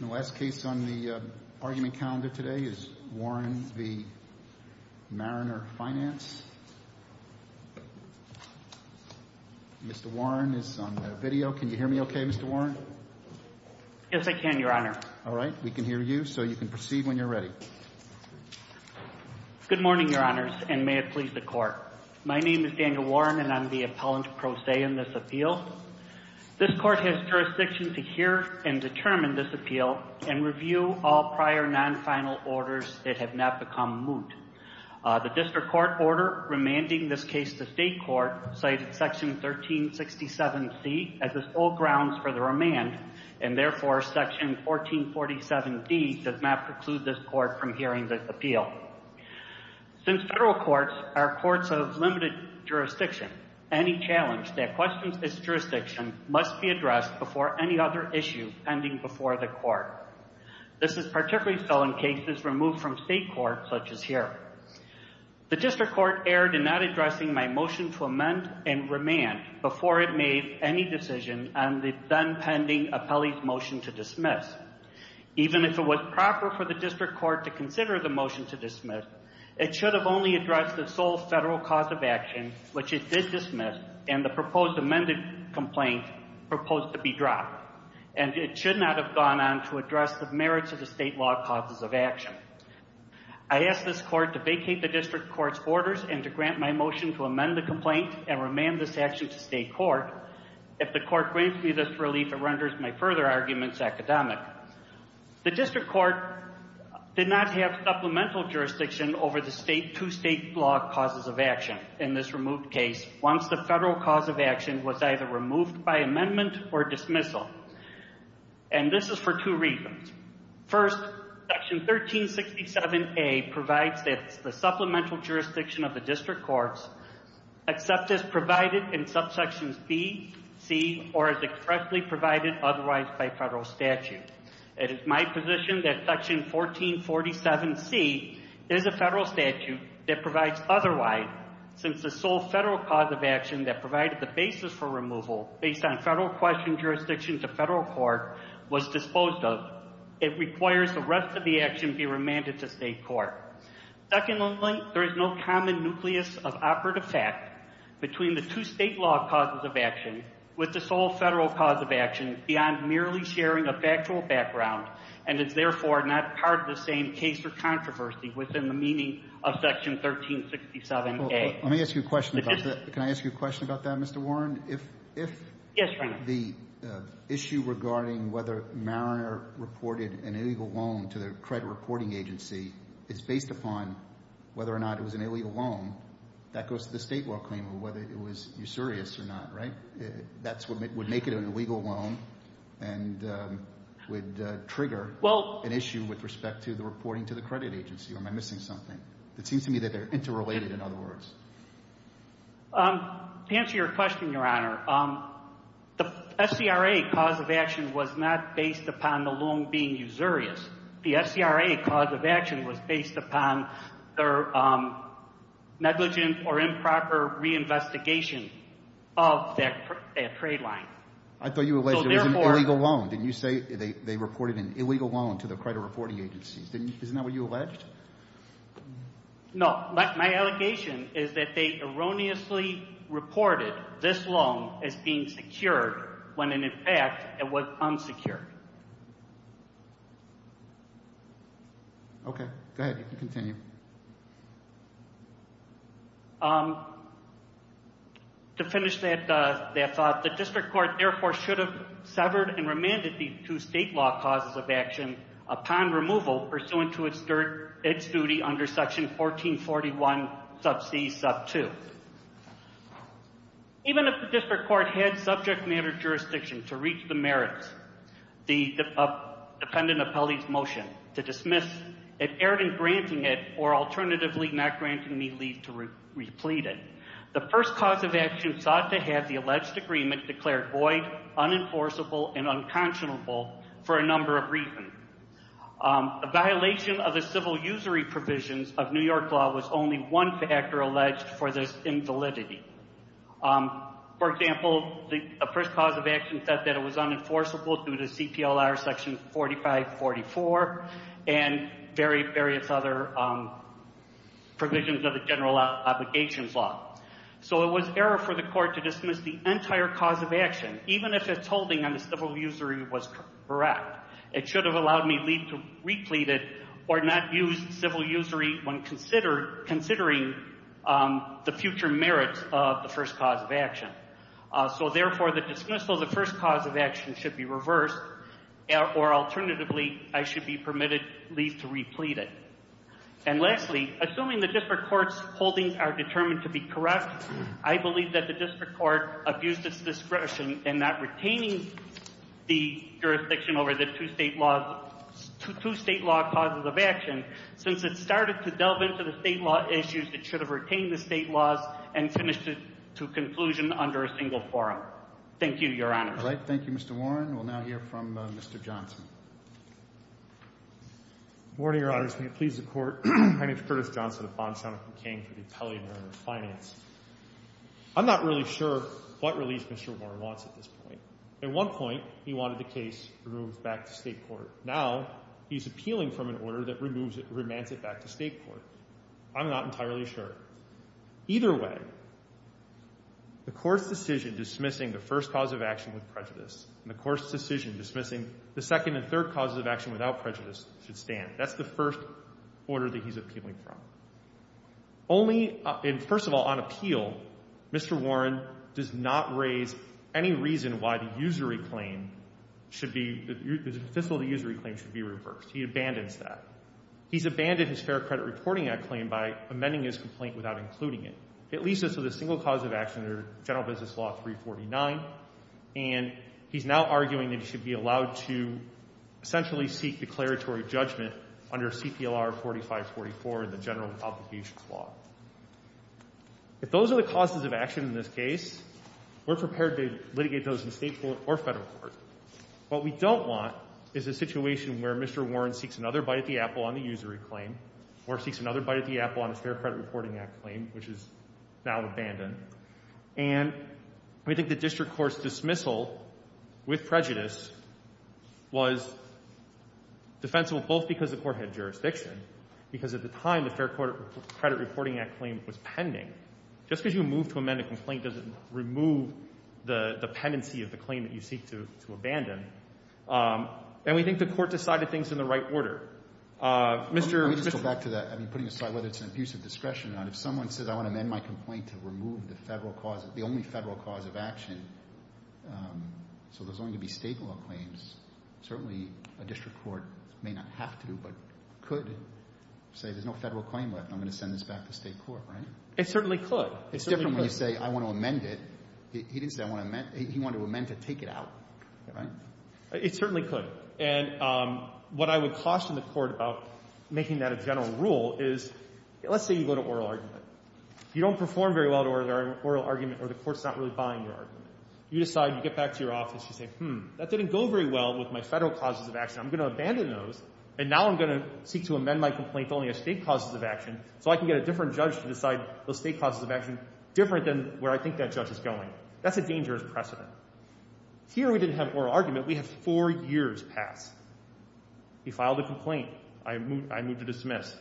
The last case on the argument calendar today is Warren v. Mariner Finance. Mr. Warren is on video. Can you hear me okay, Mr. Warren? Yes, I can, Your Honor. All right. We can hear you, so you can proceed when you're ready. Good morning, Your Honors, and may it please the Court. My name is Daniel Warren, and I'm the appellant pro se in this appeal. This Court has jurisdiction to hear and determine this appeal and review all prior non-final orders that have not become moot. The District Court order remanding this case to State Court cited Section 1367C as the sole grounds for the remand, and therefore Section 1447D does not preclude this Court from hearing this appeal. Since federal courts are courts of limited jurisdiction, any challenge that questions this jurisdiction must be addressed before any other issue pending before the Court. This is particularly so in cases removed from State Court, such as here. The District Court erred in not addressing my motion to amend and remand before it made any decision on the then-pending appellee's motion to dismiss. Even if it was proper for the District Court to consider the motion to dismiss, it should have only addressed the sole federal cause of action, which it did dismiss, and the proposed amended complaint proposed to be dropped, and it should not have gone on to address the merits of the state law causes of action. I ask this Court to vacate the District Court's orders and to grant my motion to amend the complaint and remand this action to State Court. If the Court grants me this relief, it renders my further arguments academic. The District Court did not have supplemental jurisdiction over the two state law causes of action in this removed case once the federal cause of action was either removed by amendment or dismissal, and this is for two reasons. First, Section 1367A provides that the supplemental jurisdiction of the District Courts except as provided in subsections B, C, or as correctly provided otherwise by federal statute. It is my position that Section 1447C is a federal statute that provides otherwise Since the sole federal cause of action that provided the basis for removal based on federal question jurisdiction to federal court was disposed of, it requires the rest of the action be remanded to State Court. Secondly, there is no common nucleus of operative fact between the two state law causes of action with the sole federal cause of action beyond merely sharing a factual background and is therefore not part of the same case or controversy within the meaning of Section 1367A. Let me ask you a question about that. Can I ask you a question about that, Mr. Warren? Yes, Your Honor. If the issue regarding whether Mariner reported an illegal loan to the credit reporting agency is based upon whether or not it was an illegal loan, that goes to the state law claimant whether it was usurious or not, right? That would make it an illegal loan and would trigger an issue with respect to the reporting to the credit agency. Or am I missing something? It seems to me that they're interrelated, in other words. To answer your question, Your Honor, the SCRA cause of action was not based upon the loan being usurious. The SCRA cause of action was based upon their negligent or improper reinvestigation of that trade line. I thought you alleged it was an illegal loan. Didn't you say they reported an illegal loan to the credit reporting agency? Isn't that what you alleged? No. My allegation is that they erroneously reported this loan as being secured when, in fact, it was unsecured. Okay. Go ahead. You can continue. To finish that thought, the district court, therefore, should have severed and remanded the two state law causes of action upon removal pursuant to its duty under Section 1441, sub c, sub 2. Even if the district court had subject matter jurisdiction to reach the merits of the dependent appellee's motion to dismiss it errant in granting it or alternatively not granting me leave to replete it, the first cause of action sought to have the alleged agreement declared void, unenforceable, and unconscionable for a number of reasons. A violation of the civil usury provisions of New York law was only one factor alleged for this invalidity. For example, the first cause of action said that it was unenforceable due to CPLR Section 4544 and various other provisions of the general obligations law. So it was error for the court to dismiss the entire cause of action, even if its holding on the civil usury was correct. It should have allowed me leave to replete it or not use civil usury when considering the future merits of the first cause of action. So therefore, the dismissal of the first cause of action should be reversed, or alternatively, I should be permitted leave to replete it. And lastly, assuming the district court's holdings are determined to be correct, I believe that the district court abused its discretion in not retaining the jurisdiction over the two state law causes of action. Since it started to delve into the state law issues, it should have retained the state laws and finished it to conclusion under a single forum. Thank you, Your Honor. All right. Thank you, Mr. Warren. We'll now hear from Mr. Johnson. Good morning, Your Honors. May it please the Court. My name is Curtis Johnson of Bondstown and I'm campaigning for the appellate order of finance. I'm not really sure what release Mr. Warren wants at this point. At one point, he wanted the case removed back to state court. Now, he's appealing from an order that removes it, remands it back to state court. I'm not entirely sure. Either way, the court's decision dismissing the first cause of action with prejudice and the court's decision dismissing the second and third causes of action without prejudice should stand. That's the first order that he's appealing from. Only, first of all, on appeal, Mr. Warren does not raise any reason why the usury claim should be, the fiscal usury claim should be reversed. He abandons that. He's abandoned his fair credit reporting act claim by amending his complaint without including it. It leaves us with a single cause of action under General Business Law 349, and he's now arguing that he should be allowed to essentially seek declaratory judgment under CPLR 4544, the general complications law. If those are the causes of action in this case, we're prepared to litigate those in state court or federal court. What we don't want is a situation where Mr. Warren seeks another bite at the apple on the usury claim or seeks another bite at the apple on his fair credit reporting act claim, which is now abandoned. And we think the district court's dismissal with prejudice was defensible both because the court had jurisdiction, because at the time the fair credit reporting act claim was pending. Just because you move to amend a complaint doesn't remove the dependency of the claim that you seek to abandon. And we think the court decided things in the right order. Mr. — Let me just go back to that. I mean, putting aside whether it's an abuse of discretion or not, if someone says I want to amend my complaint to remove the federal cause, the only federal cause of action, so there's only going to be state law claims, certainly a district court may not have to, but could say there's no federal claim left and I'm going to send this back to state court, right? It certainly could. It's different when you say I want to amend it. He didn't say I want to amend. He wanted to amend to take it out, right? It certainly could. And what I would caution the court about making that a general rule is, let's say you go to oral argument. You don't perform very well at oral argument or the court's not really buying your argument. You decide, you get back to your office, you say, hmm, that didn't go very well with my federal causes of action. I'm going to abandon those, and now I'm going to seek to amend my complaint to only have state causes of action so I can get a different judge to decide those state causes of action different than where I think that judge is going. That's a dangerous precedent. Here we didn't have oral argument. We had four years pass. He filed a complaint. I moved to dismiss.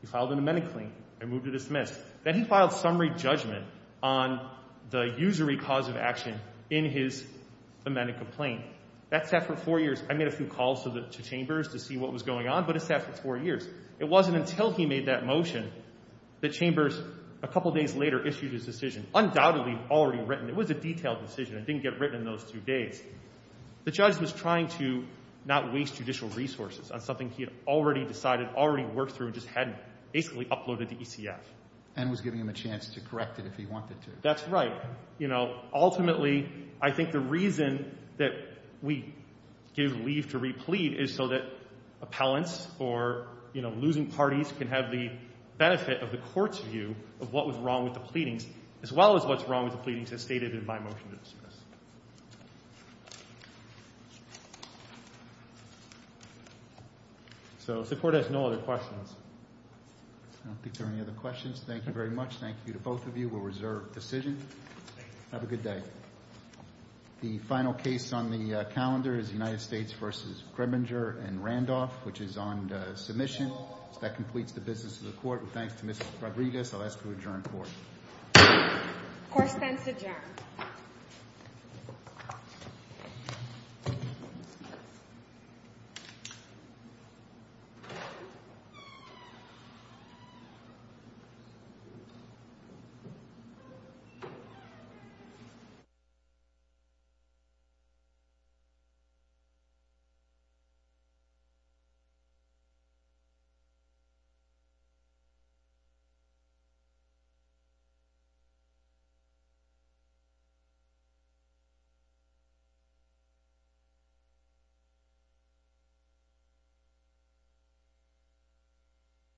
He filed an amendment claim. I moved to dismiss. Then he filed summary judgment on the usury cause of action in his amended complaint. That sat for four years. I made a few calls to Chambers to see what was going on, but it sat for four years. It wasn't until he made that motion that Chambers, a couple days later, issued his decision, undoubtedly already written. It was a detailed decision. It didn't get written in those two days. The judge was trying to not waste judicial resources on something he had already decided, already worked through, and just hadn't basically uploaded to ECF. And was giving him a chance to correct it if he wanted to. That's right. You know, ultimately, I think the reason that we give leave to replete is so that appellants or, you know, losing parties can have the benefit of the court's view of what was wrong with the pleadings, as well as what's wrong with the pleadings as stated in my motion to dismiss. So if the court has no other questions. I don't think there are any other questions. Thank you very much. Thank you to both of you. We'll reserve decision. Have a good day. The final case on the calendar is United States v. Grimminger and Randolph, which is on submission. That completes the business of the court. And thanks to Mrs. Fabregas, I'll ask to adjourn court. Court is adjourned. Thank you.